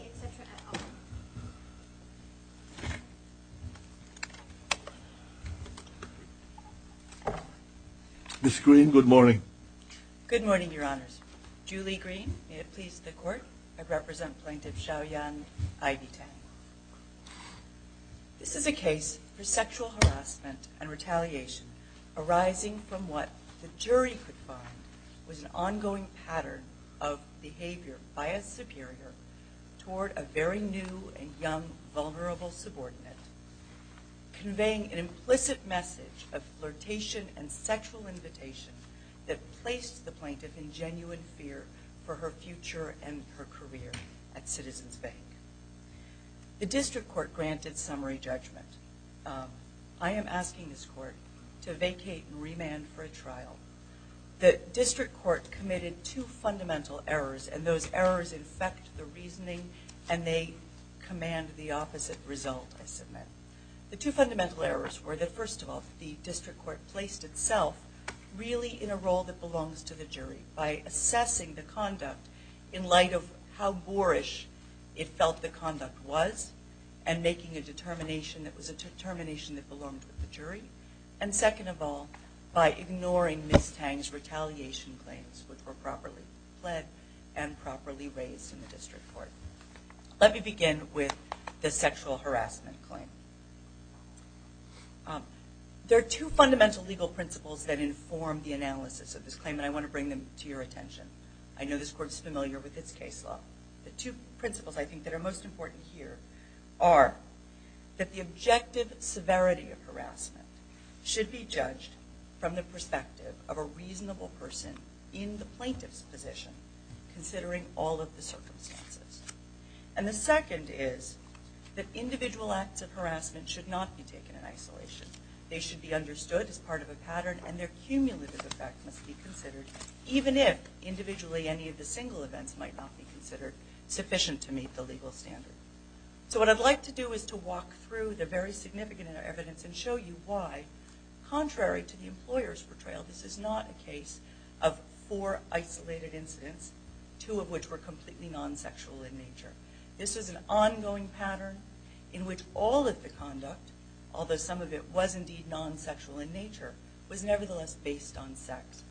etc. at all. Ms. Green, good morning. Good morning, Your Honours. Julie Green, may it please the Court. I represent Plaintiff Xiaoyan Ivy Tang. This is a case for sexual harassment and retaliation arising from what the jury could find was an ongoing pattern of behaviour by a superior toward a very new and young vulnerable subordinate, conveying an implicit message of flirtation and sexual invitation that placed the plaintiff in genuine fear for her future and her career at Citizens Bank. The District Court granted summary judgement. I am asking this Court to vacate and remand for a trial. The District Court committed two fundamental errors, and those errors infect the reasoning and they command the opposite result, I submit. The two fundamental errors were that, first of all, the District Court placed itself really in a role that belongs to the jury by assessing the conduct in light of how boorish it felt the conduct was, and making a determination that was a determination that belonged to the jury. And second of all, by ignoring Ms. Tang's retaliation claims which were properly fled and properly raised in the District Court. Let me begin with the sexual harassment claim. There are two fundamental legal principles that inform the analysis of this claim, and I want to bring them to your attention. I know this Court is familiar with its case law. The two principles I think that are most important here are that the objective severity of harassment should be judged from the perspective of a reasonable person in the plaintiff's position, considering all of the circumstances. And the second is that individual acts of harassment should not be taken in isolation. They should be understood as part of a pattern and their cumulative effect must be considered, even if individually any of the single events might not be considered sufficient to meet the legal standard. So what I'd like to do is to walk through the very significant evidence and show you why, contrary to the employer's portrayal, this is not a case of four isolated incidents, two of which were completely non-sexual in nature. This is an ongoing pattern in which all of the conduct, although some of it was indeed non-sexual in nature, was nevertheless based on sex.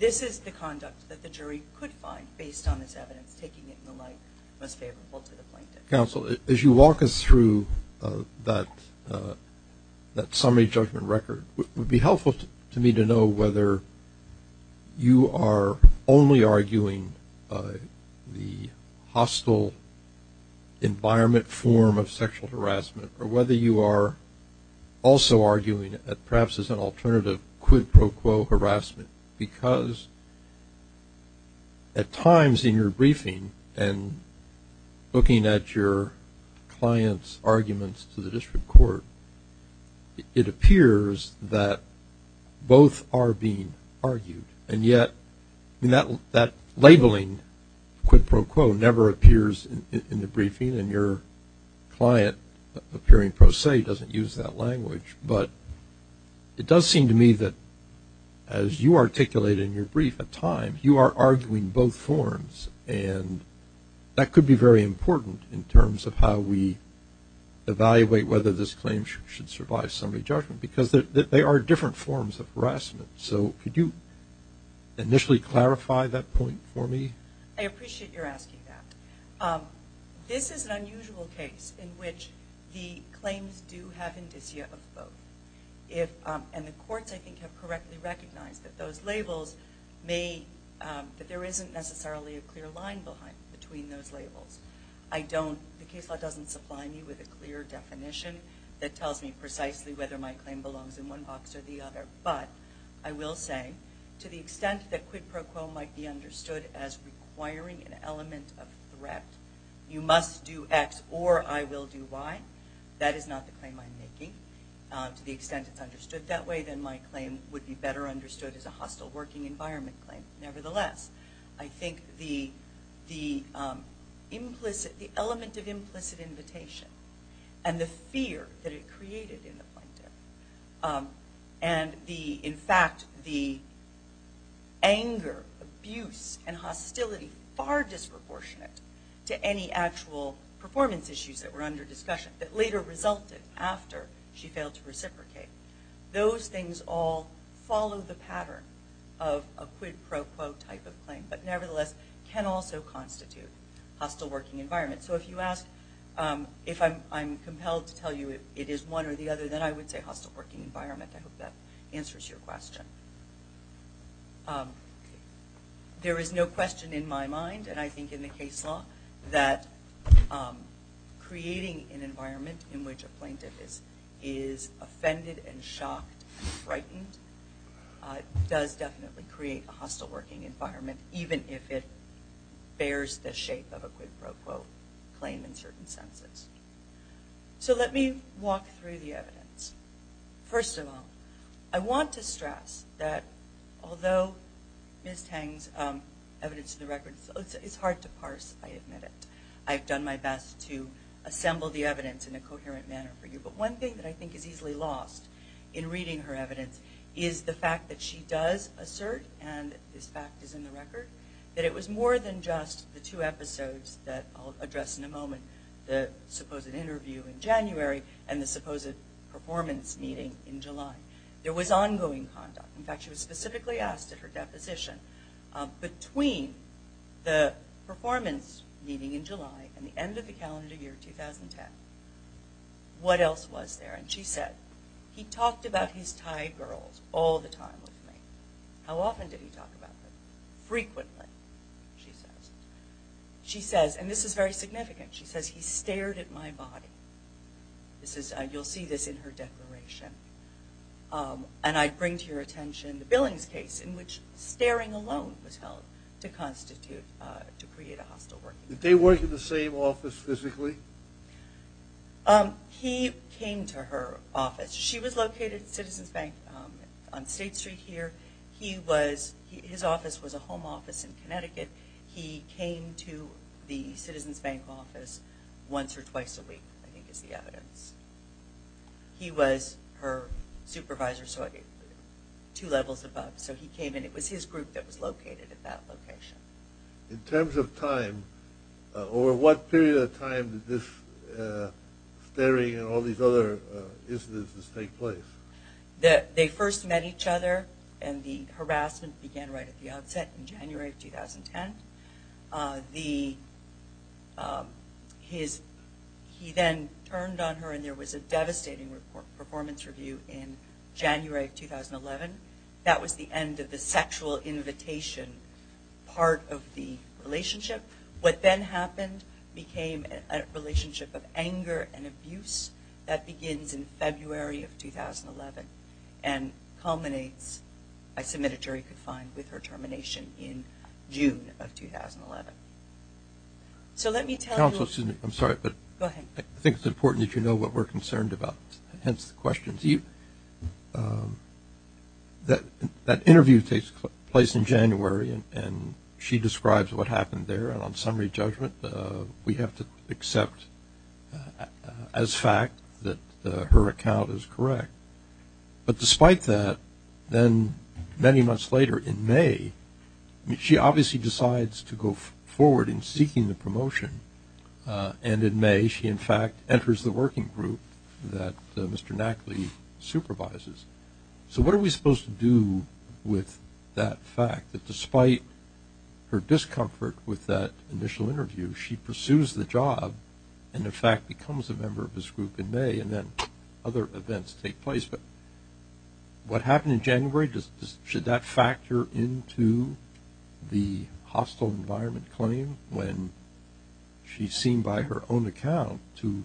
This is the conduct that the jury could find, based on this evidence, taking it in the light most favorable to the plaintiff. Counsel, as you walk us through that summary judgment record, it would be helpful to me to know whether you are only arguing the hostile environment form of sexual harassment or whether you are also arguing perhaps as an alternative quid pro quo harassment. Because at times in your briefing and looking at your client's arguments to the district court, it appears that both are being argued and yet that labeling quid pro quo never appears in the briefing and your client appearing pro se doesn't use that language. But it does seem to me that as you articulate in your brief at times, you are arguing both forms and that could be very important in terms of how we evaluate whether this claim should survive summary judgment because they are different forms of harassment. So could you initially clarify that point for me? I appreciate your asking that. This is an unusual case in which the claims do have indicia of both. And the courts I think have correctly recognized that those labels may, that there isn't necessarily a clear line between those labels. I don't, the case law doesn't supply me with a clear definition that tells me precisely whether my claim belongs in one box or the requiring an element of threat. You must do X or I will do Y. That is not the claim I'm making to the extent it's understood. That way then my claim would be better understood as a hostile working environment claim. Nevertheless, I think the implicit, the element of implicit invitation and the fear that it created in the plaintiff and the, in fact, the anger, abuse and hostility far disproportionate to any actual performance issues that were under discussion that later resulted after she failed to reciprocate. Those things all follow the pattern of a quid pro quo type of claim, but nevertheless can also constitute hostile working environment. So if you ask, if I'm compelled to tell you it is one or the other, then I hope that answers your question. There is no question in my mind and I think in the case law that creating an environment in which a plaintiff is offended and shocked and frightened does definitely create a hostile working environment even if it bears the shape of a quid pro quo claim in certain senses. So let me walk through the evidence. First of all, I want to stress that although Ms. Tang's evidence of the record, it's hard to parse, I admit it. I've done my best to assemble the evidence in a coherent manner for you, but one thing that I think is easily lost in reading her evidence is the fact that she does assert, and this fact is in the record, that it was more than just the two episodes that I'll address in a moment, the supposed interview in January and the supposed performance meeting in July. There was ongoing conduct. In fact, she was specifically asked at her deposition between the performance meeting in July and the end of the calendar year 2010, what else was there? And she said, he talked about his Thai girls all the time with me. How often did he talk about them? Frequently, she says. She says, and this is very significant, she says, he stared at my body. This is, you'll see this in her declaration. And I bring to your attention the Billings case in which staring alone was held to constitute, to create a hostile working environment. Did they work in the same office physically? He came to her office. She was located at Citizens Bank on State Street here. He was, his office was a home office in Connecticut. He came to the Citizens Bank office once or twice a week, I think is the evidence. He was her supervisor, so two levels above. So he came and it was his group that was located at that location. In terms of time, over what period of time did this staring and all these other instances take place? They first met each other and the harassment began right at the outset in January of 2010. The, his, he then turned on her and there was a devastating report, performance review in January of 2011. That was the end of the sexual invitation part of the relationship. What then happened became a relationship of anger and abuse that begins in February of 2011 and culminates, I submit a jury could find, with her termination in June of 2011. So let me tell you... Counsel Susan, I'm sorry, but I think it's important that you know what we're concerned about, hence the questions. That interview takes place in January and she describes what happened there and on summary judgment we have to accept as fact that her account is correct. But despite that, then many months later in May, she obviously decides to go forward in seeking the promotion and in May she in fact enters the working group that Mr. to do with that fact that despite her discomfort with that initial interview, she pursues the job and in fact becomes a member of this group in May and then other events take place. But what happened in January, should that factor into the hostile environment claim when she's seen by her to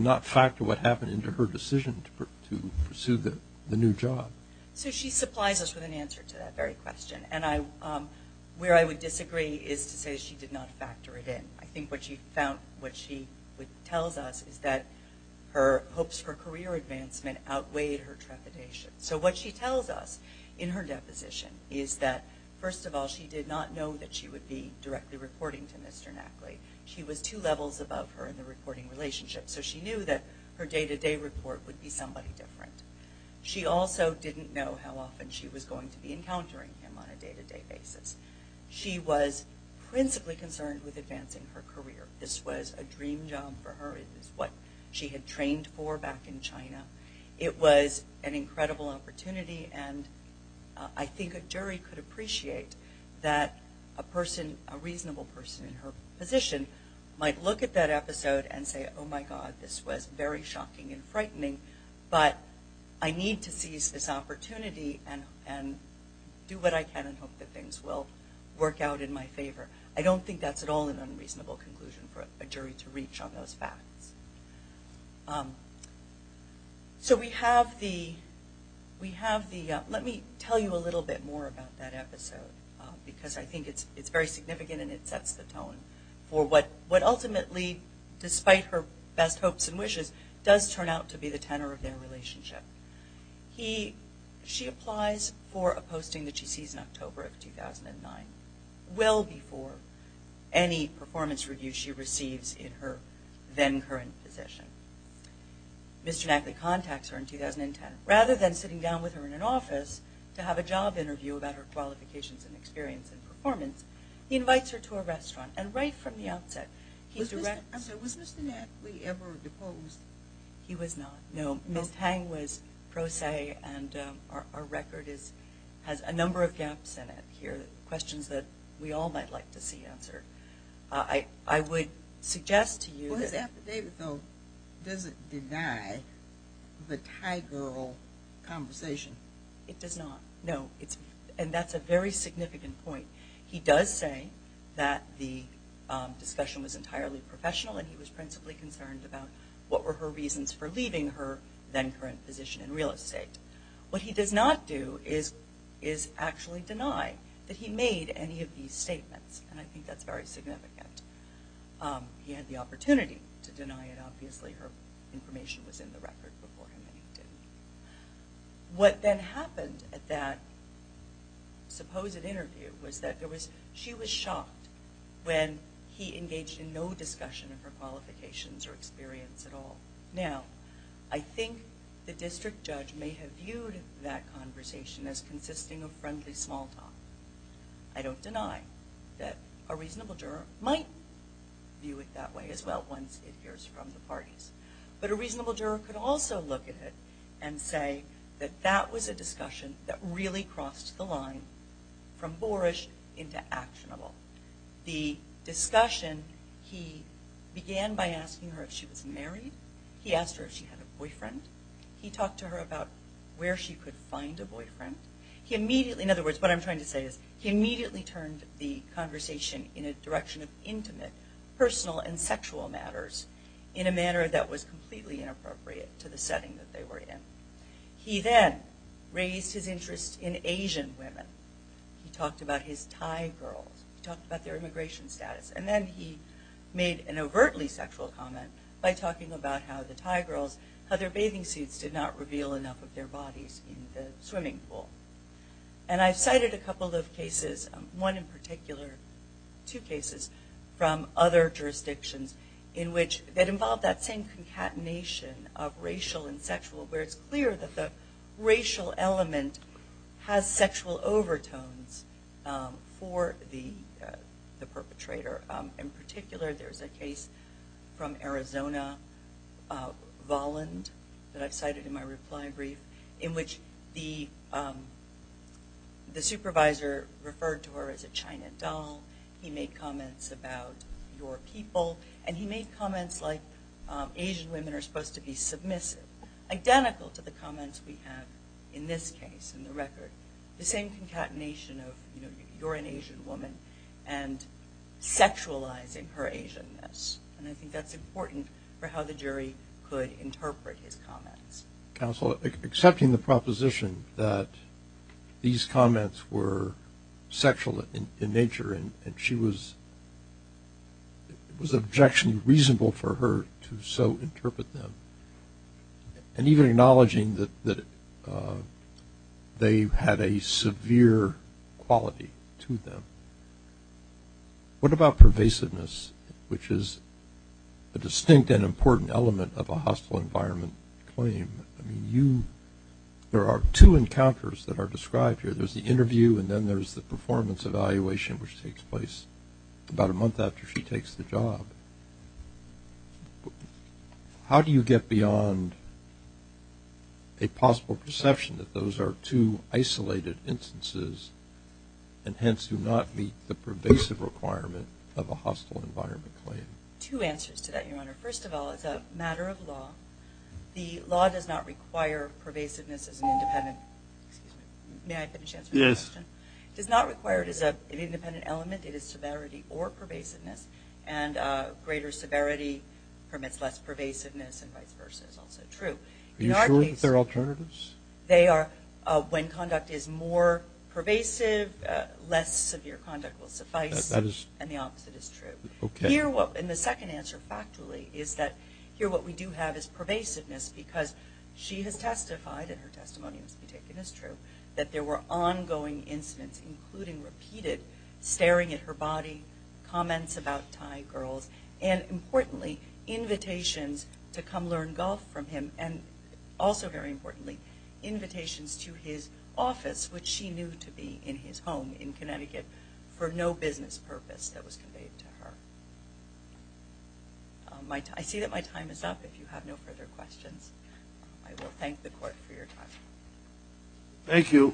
not factor what happened into her decision to pursue the new job? So she supplies us with an answer to that very question and where I would disagree is to say she did not factor it in. I think what she tells us is that her hopes for career advancement outweighed her trepidation. So what she tells us in her deposition is that first of all, she did not know that she would be directly reporting to Mr. Knackley. She was two levels above her in the reporting relationship, so she knew that her day-to-day report would be somebody different. She also didn't know how often she was going to be encountering him on a day-to-day basis. She was principally concerned with advancing her career. This was a dream job for her. It was what she had trained for back in China. It was an incredible opportunity and I think a jury could appreciate that a person a reasonable person in her position might look at that episode and say, oh my God, this was very shocking and frightening, but I need to seize this opportunity and do what I can and hope that things will work out in my favor. I don't think that's at all an unreasonable conclusion for a jury to reach on those facts. So we have the, let me tell you a little bit more about that episode, because I think it's very significant and it sets the tone for what ultimately, despite her best hopes and wishes, does turn out to be the tenor of their relationship. She applies for a posting that she sees in October of 2009, well before any performance review she receives in her then current position. Mr. Knackley contacts her in 2010. Rather than sitting down with her in an office to have a job interview about her qualifications and experience in performance, he invites her to a restaurant. And right from the outset, he directs... I'm sorry, was Mr. Knackley ever deposed? He was not, no. Ms. Tang was pro se and our record has a number of gaps in it here, questions that we all might like to see answered. I would suggest to you that... But David, though, doesn't deny the Thai girl conversation. It does not, no. And that's a very significant point. He does say that the discussion was entirely professional and he was principally concerned about what were her reasons for leaving her then current position in real estate. What he does not do is actually deny that he made any of these statements, and I think that's very significant. He had the right to deny it. Obviously, her information was in the record before him and he didn't. What then happened at that supposed interview was that she was shocked when he engaged in no discussion of her qualifications or experience at all. Now, I think the district judge may have viewed that conversation as consisting of friendly small talk. I don't deny that a reasonable juror might view it that way as well once it hears from the parties. But a reasonable juror could also look at it and say that that was a discussion that really crossed the line from boorish into actionable. The discussion, he began by asking her if she was married. He asked her if she had a boyfriend. He talked to her about where she could find a boyfriend. He immediately, in other words, what I'm trying to say is he immediately turned the conversation in a direction of intimate, personal, and sexual matters in a manner that was completely inappropriate to the setting that they were in. He then raised his interest in Asian women. He talked about his Thai girls. He talked about their immigration status. And then he made an overtly sexual comment by talking about how the Thai girls, how their bathing suits did not reveal enough of their bodies in the swimming pool. And I've cited a couple of cases, one in particular, two cases from other jurisdictions in which that involved that same concatenation of racial and sexual where it's clear that the racial element has sexual overtones for the perpetrator. In particular, there's a case from Arizona Voland that I've cited in my reply brief in which the supervisor referred to her as a China doll. He made comments about your people. And he made comments like Asian women are supposed to be submissive, identical to the comments we have in this case in the record. The same concatenation of you're an Asian woman and sexualizing her Asianness. And I wonder how the jury could interpret his comments. Counsel, accepting the proposition that these comments were sexual in nature and she was objectionable reasonable for her to so interpret them. And even acknowledging that they had a severe quality to them. What about pervasiveness, which is a distinct and important aspect of a hostile environment claim? There are two encounters that are described here. There's the interview and then there's the performance evaluation which takes place about a month after she takes the job. How do you get beyond a possible perception that those are two isolated instances and hence do not meet the pervasive requirement of a hostile environment claim? Two answers to that, Your Honor. First of all, it's a matter of law. The law does not require pervasiveness as an independent. Excuse me. May I finish answering the question? Yes. Does not require it as an independent element. It is severity or pervasiveness. And greater severity permits less pervasiveness and vice versa is also true. Are you sure that they're alternatives? They are. When conduct is more pervasive, less severe conduct will suffice. That is. And the opposite is true. And the second answer, factually, is that here what we do have is pervasiveness because she has testified, and her testimony must be taken as true, that there were ongoing incidents, including repeated staring at her body, comments about Thai girls, and importantly, invitations to come learn golf from him and also very importantly, invitations to his office, which she knew to be in his home in Connecticut, for no business purpose that was conveyed to her. I see that my time is up. If you have no further questions, I will thank the Court for your time. Thank you.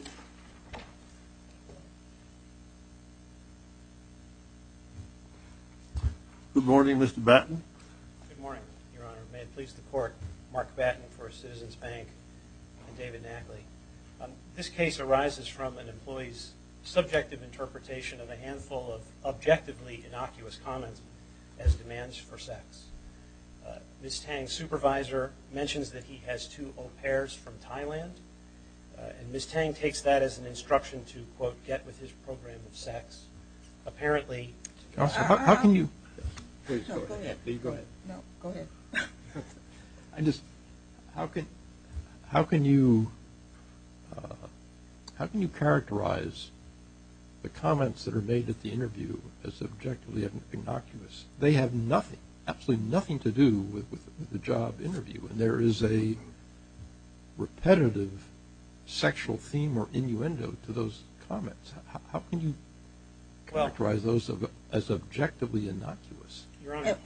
Good morning, Mr. Batten. Good morning, Your Honor. May it please the Court, Mark Batten for Citizens Bank and David Batten. This case arises from an employee's subjective interpretation of a handful of objectively innocuous comments as demands for sex. Ms. Tang's supervisor mentions that he has two au pairs from Thailand, and Ms. Tang takes that as an instruction to, quote, get with his program of sex. Apparently... How can you... No, go ahead. No, go ahead. I just, how can, how can you, how can you characterize the comments that are made at the interview as objectively innocuous? They have nothing, absolutely nothing to do with the job interview, and there is a repetitive sexual theme or innuendo to those comments. How can you characterize those as objectively innocuous? Your Honor...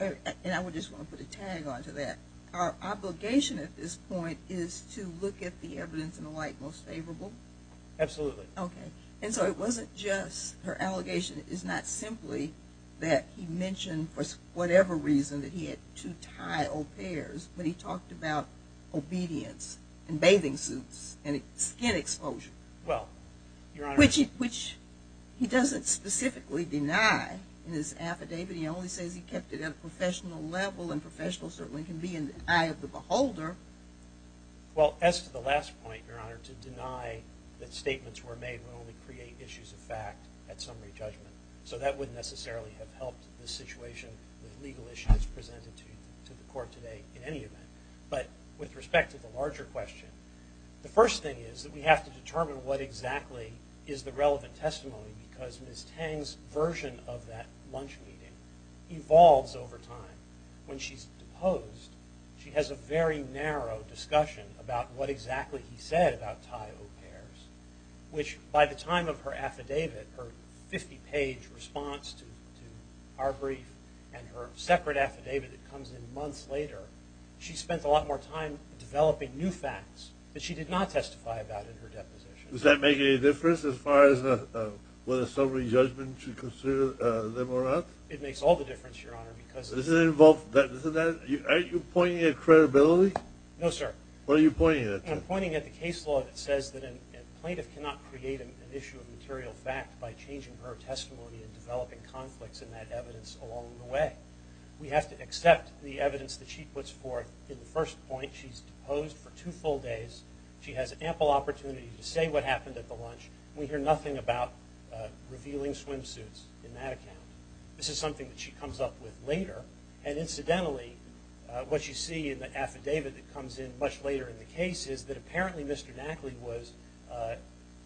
And I would just want to put a tag on to that. Our obligation at this point is to look at the evidence and the like most favorable? Absolutely. Okay. And so it wasn't just, her allegation is not simply that he mentioned for whatever reason that he had two Thai au pairs, but he talked about obedience and bathing suits and skin exposure. Well, Your Honor... Which he doesn't specifically deny in his affidavit. He only says he kept it at a professional level, and professional certainly can be in the eye of the beholder. Well, as to the last point, Your Honor, to deny that statements were made would only create issues of fact at summary judgment. So that wouldn't necessarily have helped this situation with legal issues presented to the court today in any event. But with respect to the larger question, the first thing is that we have to determine what exactly is the relevant testimony, because Ms. Tang's version of that lunch meeting evolves over time. When she's deposed, she has a very narrow discussion about what exactly he said about Thai au pairs, which by the time of her affidavit, her 50-page response to our brief and her separate affidavit that comes in months later, she spent a lot more time developing new facts that she did not testify about in her deposition. Does that make any difference as far as whether summary judgment should consider them or not? It makes all the difference, Your Honor, because Isn't that, aren't you pointing at credibility? No, sir. What are you pointing at? I'm pointing at the case law that says that a plaintiff cannot create an issue of material fact by changing her testimony and developing conflicts in that evidence along the way. We have to accept the evidence that she puts forth in the first point. She's deposed for two full days. She has ample opportunity to say what happened at the lunch. We hear nothing about revealing swimsuits in that account. This is something that she comes up with later. And incidentally, what you see in the affidavit that comes in much later in the case is that apparently Mr. Nackley was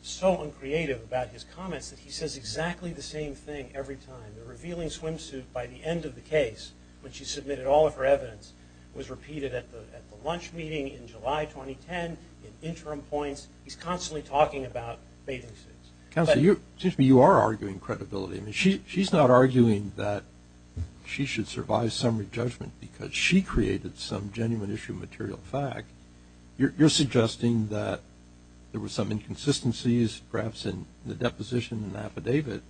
so uncreative about his comments that he says exactly the same thing every time. The revealing swimsuit by the end of the case, when she submitted all of her evidence, was in July 2010, in interim points. He's constantly talking about bathing suits. Counselor, you are arguing credibility. She's not arguing that she should survive summary judgment because she created some genuine issue of material fact. You're suggesting that there were some inconsistencies, perhaps in the deposition and affidavit.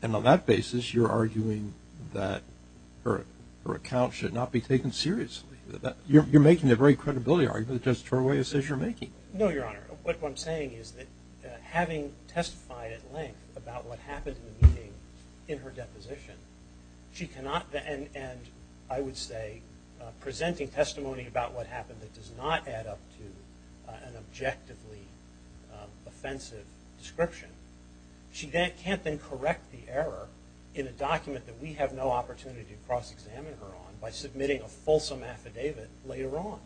And on that basis, you're arguing that her account should not be taken seriously. You're making a very credibility argument, just the way it says you're making. No, Your Honor. What I'm saying is that having testified at length about what happened in the meeting in her deposition, she cannot then, and I would say presenting testimony about what happened that does not add up to an objectively offensive description, she can't then correct the error in a document that we have no opportunity to cross-examine her on by submitting a fulsome affidavit later on.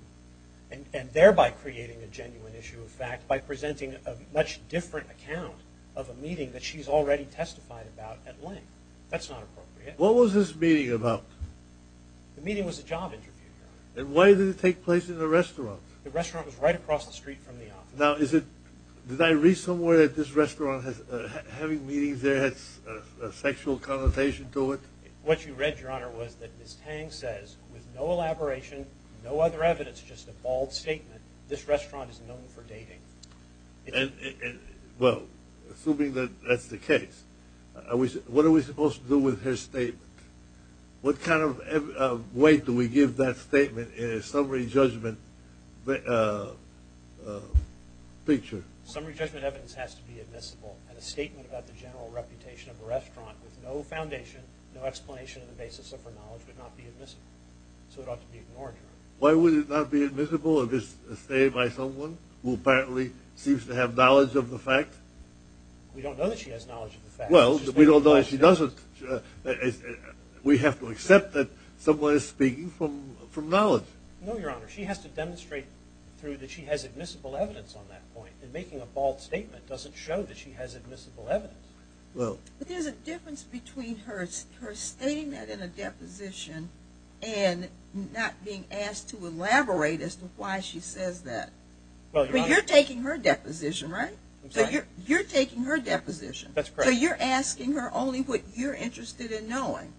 And thereby creating a genuine issue of fact by presenting a much different account of a meeting that she's already testified about at length. That's not appropriate. What was this meeting about? The meeting was a job interview, Your Honor. And why did it take place in a restaurant? The restaurant was right across the street from the office. Now, did I read somewhere that this restaurant, having meetings there, had a sexual connotation to it? What you read, Your Honor, was that Ms. Tang says with no elaboration, no other evidence, just a bald statement, this restaurant is known for dating. Well, assuming that that's the case, what are we supposed to do with her statement? What kind of weight do we give that statement in a summary judgment picture? Summary judgment evidence has to be admissible. And a statement about the general reputation of a restaurant with no foundation, no explanation on the basis of her knowledge would not be admissible. So it ought to be ignored, Your Honor. Why would it not be admissible if it's stated by someone who apparently seems to have knowledge of the fact? We don't know that she has knowledge of the fact. Well, we don't know if she doesn't. We have to accept that someone is speaking from knowledge. No, Your Honor. She has to demonstrate through that she has admissible evidence on that point. And making a bald statement doesn't show that she has admissible evidence. But there's a difference between her stating that in a deposition and not being asked to elaborate as to why she says that. But you're taking her deposition, right? I'm sorry? You're taking her deposition. That's correct. So you're asking her only what you're interested in knowing.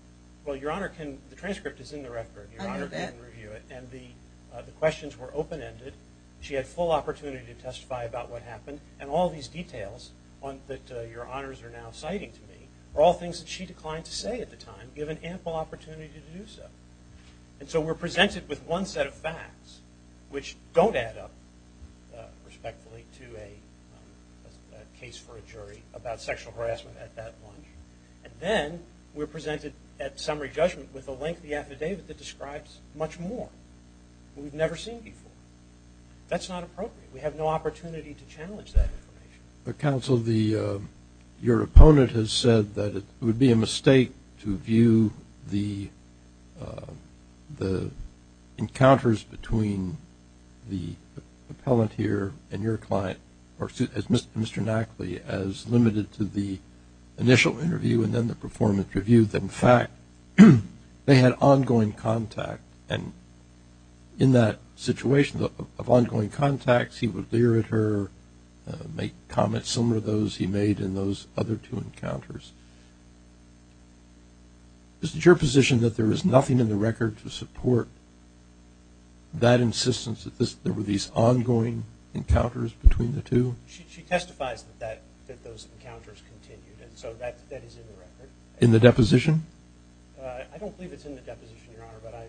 Well, Your Honor, the transcript is in the record. Your Honor can review it. And the questions were open-ended. She had full opportunity to testify about what happened. And all these details that Your Honors are now citing to me are all things that she declined to say at the time, given ample opportunity to do so. And so we're presented with one set of facts, which don't add up, respectfully, to a case for a jury about sexual harassment at that lunch. And then we're presented at summary judgment with a lengthy affidavit that describes much more that we've never seen before. That's not appropriate. We have no opportunity to challenge that information. But, counsel, your opponent has said that it would be a mistake to view the encounters between the appellant here and your client, or Mr. Knackley, as limited to the initial interview and then the performance review. In fact, they had ongoing contact. And in that situation of ongoing contacts, he would leer at her, make comments similar to those he made in those other two encounters. Isn't it your position that there is nothing in the record to support that insistence that there were these ongoing encounters between the two? She testifies that those encounters continued. And so that is in the record. In the deposition? I don't believe it's in the deposition, Your Honor, but I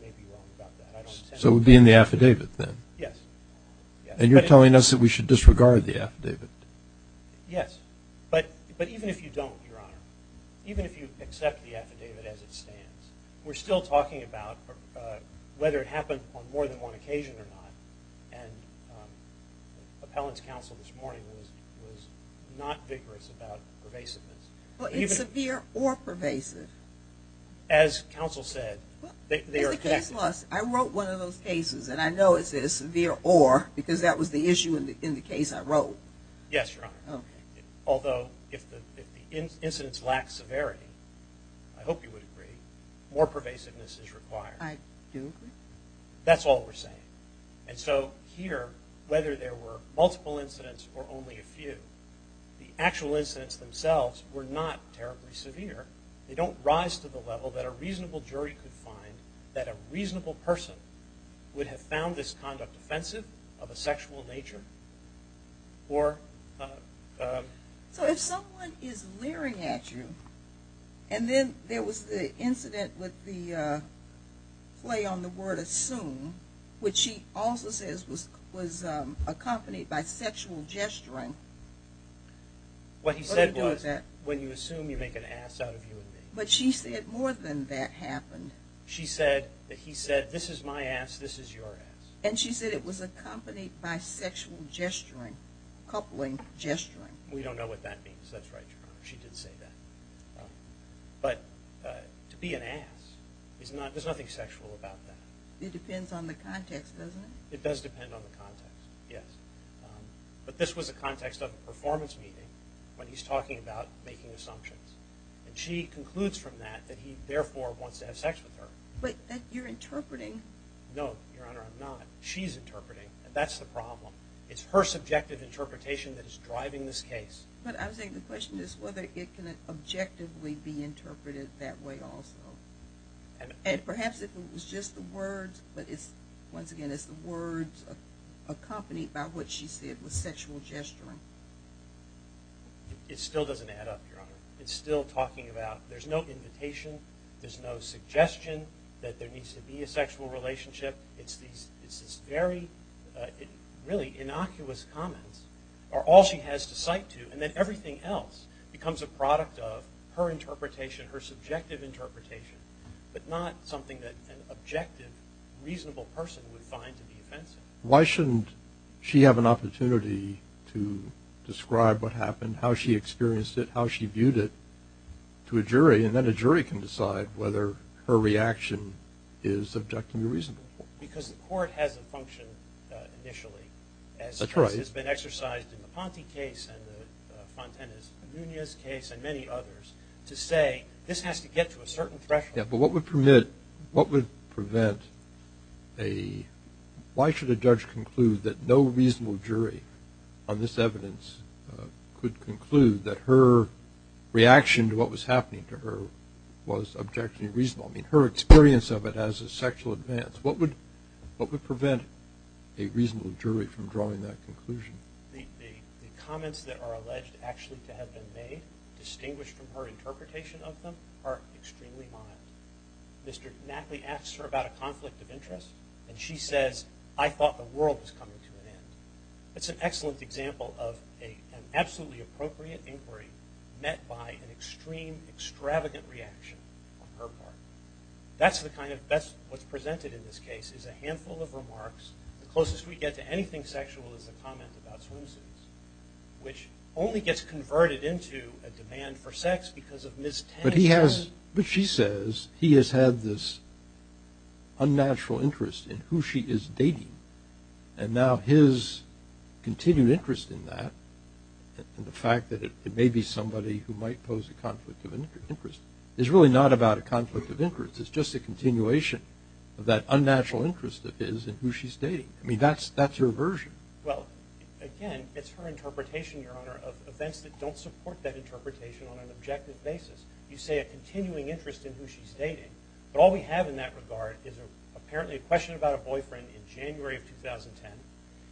may be wrong about that. So it would be in the affidavit, then? Yes. And you're telling us that we should disregard the affidavit? Yes. But even if you don't, Your Honor, even if you accept the affidavit as it stands, we're still talking about whether it happened on more than one occasion or not. And appellant's counsel this morning was not vigorous about pervasiveness. Well, it's severe or pervasive. As counsel said, they are... It's a case loss. I wrote one of those cases, and I know it's a severe or because that was the issue in the case I wrote. Yes, Your Honor. Although if the incidents lack severity, I hope you would agree, more pervasiveness is required. I do agree. That's all we're saying. And so here, whether there were multiple incidents or only a few, the actual incidents themselves were not terribly severe. They don't rise to the level that a reasonable jury could find that a reasonable person would have found this conduct offensive of a sexual nature or... So if someone is leering at you, and then there was the incident with the play on the word assume, which she also says was accompanied by sexual gesturing... What he said was, when you assume, you make an ass out of you and me. But she said more than that happened. She said that he said, this is my ass, this is your ass. And she said it was accompanied by sexual gesturing, coupling gesturing. We don't know what that means. That's right, Your Honor. She did say that. But to be an ass, there's nothing sexual about that. It depends on the context, doesn't it? It does depend on the context, yes. But this was a context of a performance meeting when he's talking about making assumptions. And she concludes from that that he therefore wants to have sex with her. But you're interpreting. No, Your Honor, I'm not. She's interpreting, and that's the problem. It's her subjective interpretation that is driving this case. But I was saying, the question is whether it can objectively be interpreted that way also. And perhaps if it was just the words, but once again, it's the words accompanied by what she said was sexual gesturing. It still doesn't add up, Your Honor. It's still talking about there's no invitation, there's no suggestion that there needs to be a sexual relationship. It's these very, really innocuous comments are all she has to cite to. And then everything else becomes a product of her interpretation, her subjective interpretation, but not something that an objective, reasonable person would find to be offensive. Why shouldn't she have an opportunity to describe what happened, how she experienced it, how she viewed it to a jury? And then a jury can decide whether her reaction is objectively reasonable. Because the court has a function initially. That's right. It's been exercised in the Ponte case, and the Fontana-Nunez case, and many others, to say this has to get to a certain threshold. Yeah, but what would permit, what would prevent a, why should a judge conclude that no reasonable jury on this evidence could conclude that her reaction to what was happening to her was objectively reasonable? I mean, her experience of it as a sexual advance. What would prevent a reasonable jury from drawing that conclusion? The comments that are alleged actually to have been made, distinguished from her interpretation of them, are extremely mild. Mr. Knapley asks her about a conflict of interest, and she says, I thought the world was coming to an end. It's an excellent example of an absolutely appropriate inquiry met by an extreme, extravagant reaction on her part. That's the kind of, that's what's presented in this case, is a handful of remarks. The closest we get to anything sexual is the comment about swimsuits, which only gets converted into a demand for sex because of Ms. Tang's... But he has, but she says, he has had this unnatural interest in who she is dating, and now his continued interest in that, and the fact that it may be somebody who might pose a conflict of interest, is really not about a conflict of interest. It's just a continuation of that unnatural interest that is in who she's dating. I mean, that's her version. Well, again, it's her interpretation, Your Honor, of events that don't support that interpretation on an objective basis. You say a continuing interest in who she's dating, but all we have in that regard is apparently a question about a boyfriend in January of 2010,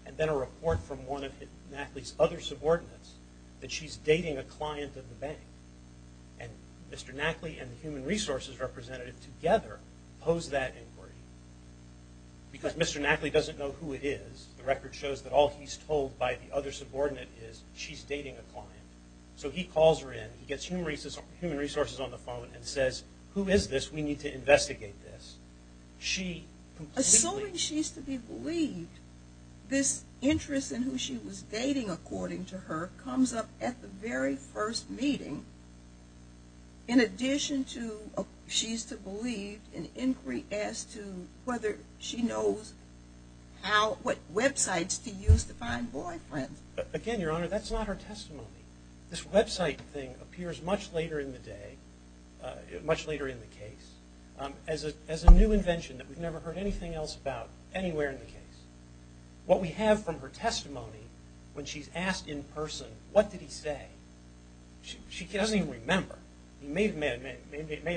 and then a report from one of Knapley's other subordinates that she's dating a client of the bank. And Mr. Knapley and the human resources representative together pose that inquiry. Because Mr. Knapley doesn't know who it is, the record shows that all he's told by the other subordinate is, she's dating a client. So he calls her in, he gets human resources on the phone, and says, who is this? We need to investigate this. Assuming she's to be believed, this interest in who she was dating, according to her, comes up at the very first meeting, in addition to, she's to believe an inquiry as to whether she knows what websites to use to find boyfriends. Again, Your Honor, that's not her testimony. This website thing appears much later in the day, much later in the case, as a new invention that we've never heard anything else about anywhere in the case. What we have from her testimony when she's asked in person, what did he say? She doesn't even remember. He may have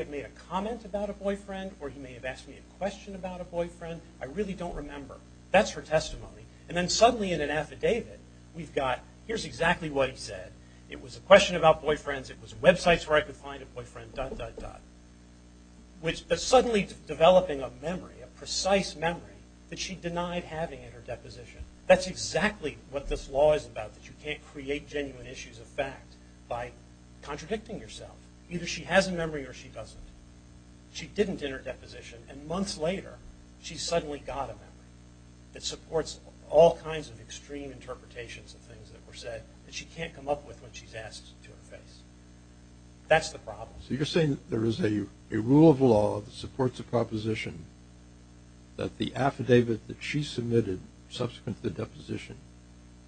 made a comment about a boyfriend, or he may have asked me a question about a boyfriend. I really don't remember. That's her testimony. And then suddenly in an affidavit, we've got, here's exactly what he said. It was a question about boyfriends, it was websites where I could find a boyfriend, dot, dot, dot. Suddenly developing a memory, a precise memory, that she denied having in her deposition. That's exactly what this law is about, that you can't create genuine issues of fact by contradicting yourself. Either she has a memory or she doesn't. She didn't in her deposition, and months later, she suddenly got a memory that supports all kinds of extreme interpretations of things that were said that she can't come up with when she's asked to her face. That's the problem. So you're saying that there is a rule of law that supports a proposition that the affidavit that she submitted subsequent to the deposition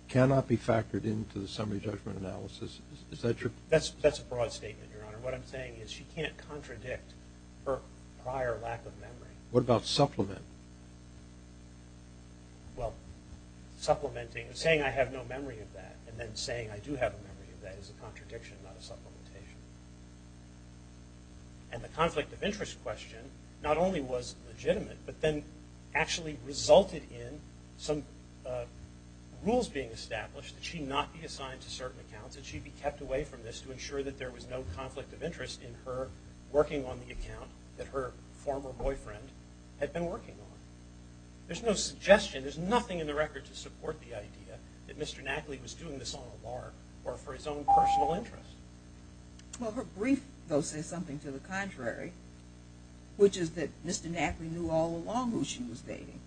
cannot be factored into the summary judgment analysis? Is that your... That's a broad statement, Your Honor. What I'm saying is she can't contradict her prior lack of memory. What about supplement? Well, supplementing, saying I have no memory of that and then saying I do have a memory of that is a contradiction, not a supplementation. And the conflict of interest question not only was legitimate, but then actually resulted in some rules being established that she not be assigned to certain accounts and she be kept away from this to ensure that there was no conflict of interest in her working on the account that her former boyfriend had been working on. There's no suggestion, there's nothing in the record to support the idea that Mr. Knackley was doing this on a bar or for his own personal interest. Well, her brief, though, says something to the contrary which is that Mr. Knackley knew all along who she was dating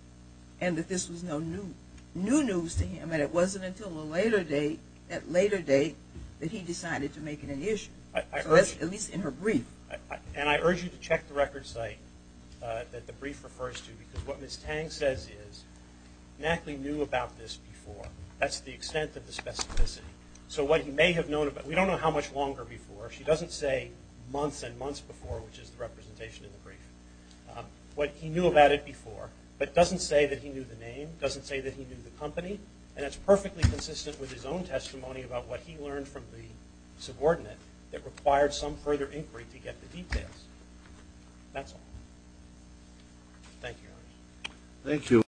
and that this was no new news to him and it wasn't until a later date that he decided to make it an issue. At least in her brief. And I urge you to check the record site that the brief refers to because what Ms. Tang says is Knackley knew about this before. That's the extent of the specificity. So what he may have known about... We don't know how much longer before. She doesn't say months and months before which is the representation in the brief. What he knew about it before but doesn't say that he knew the name, doesn't say that he knew the company and it's perfectly consistent with his own testimony about what he learned from the subordinate that required some further inquiry to get the details. That's all. Thank you.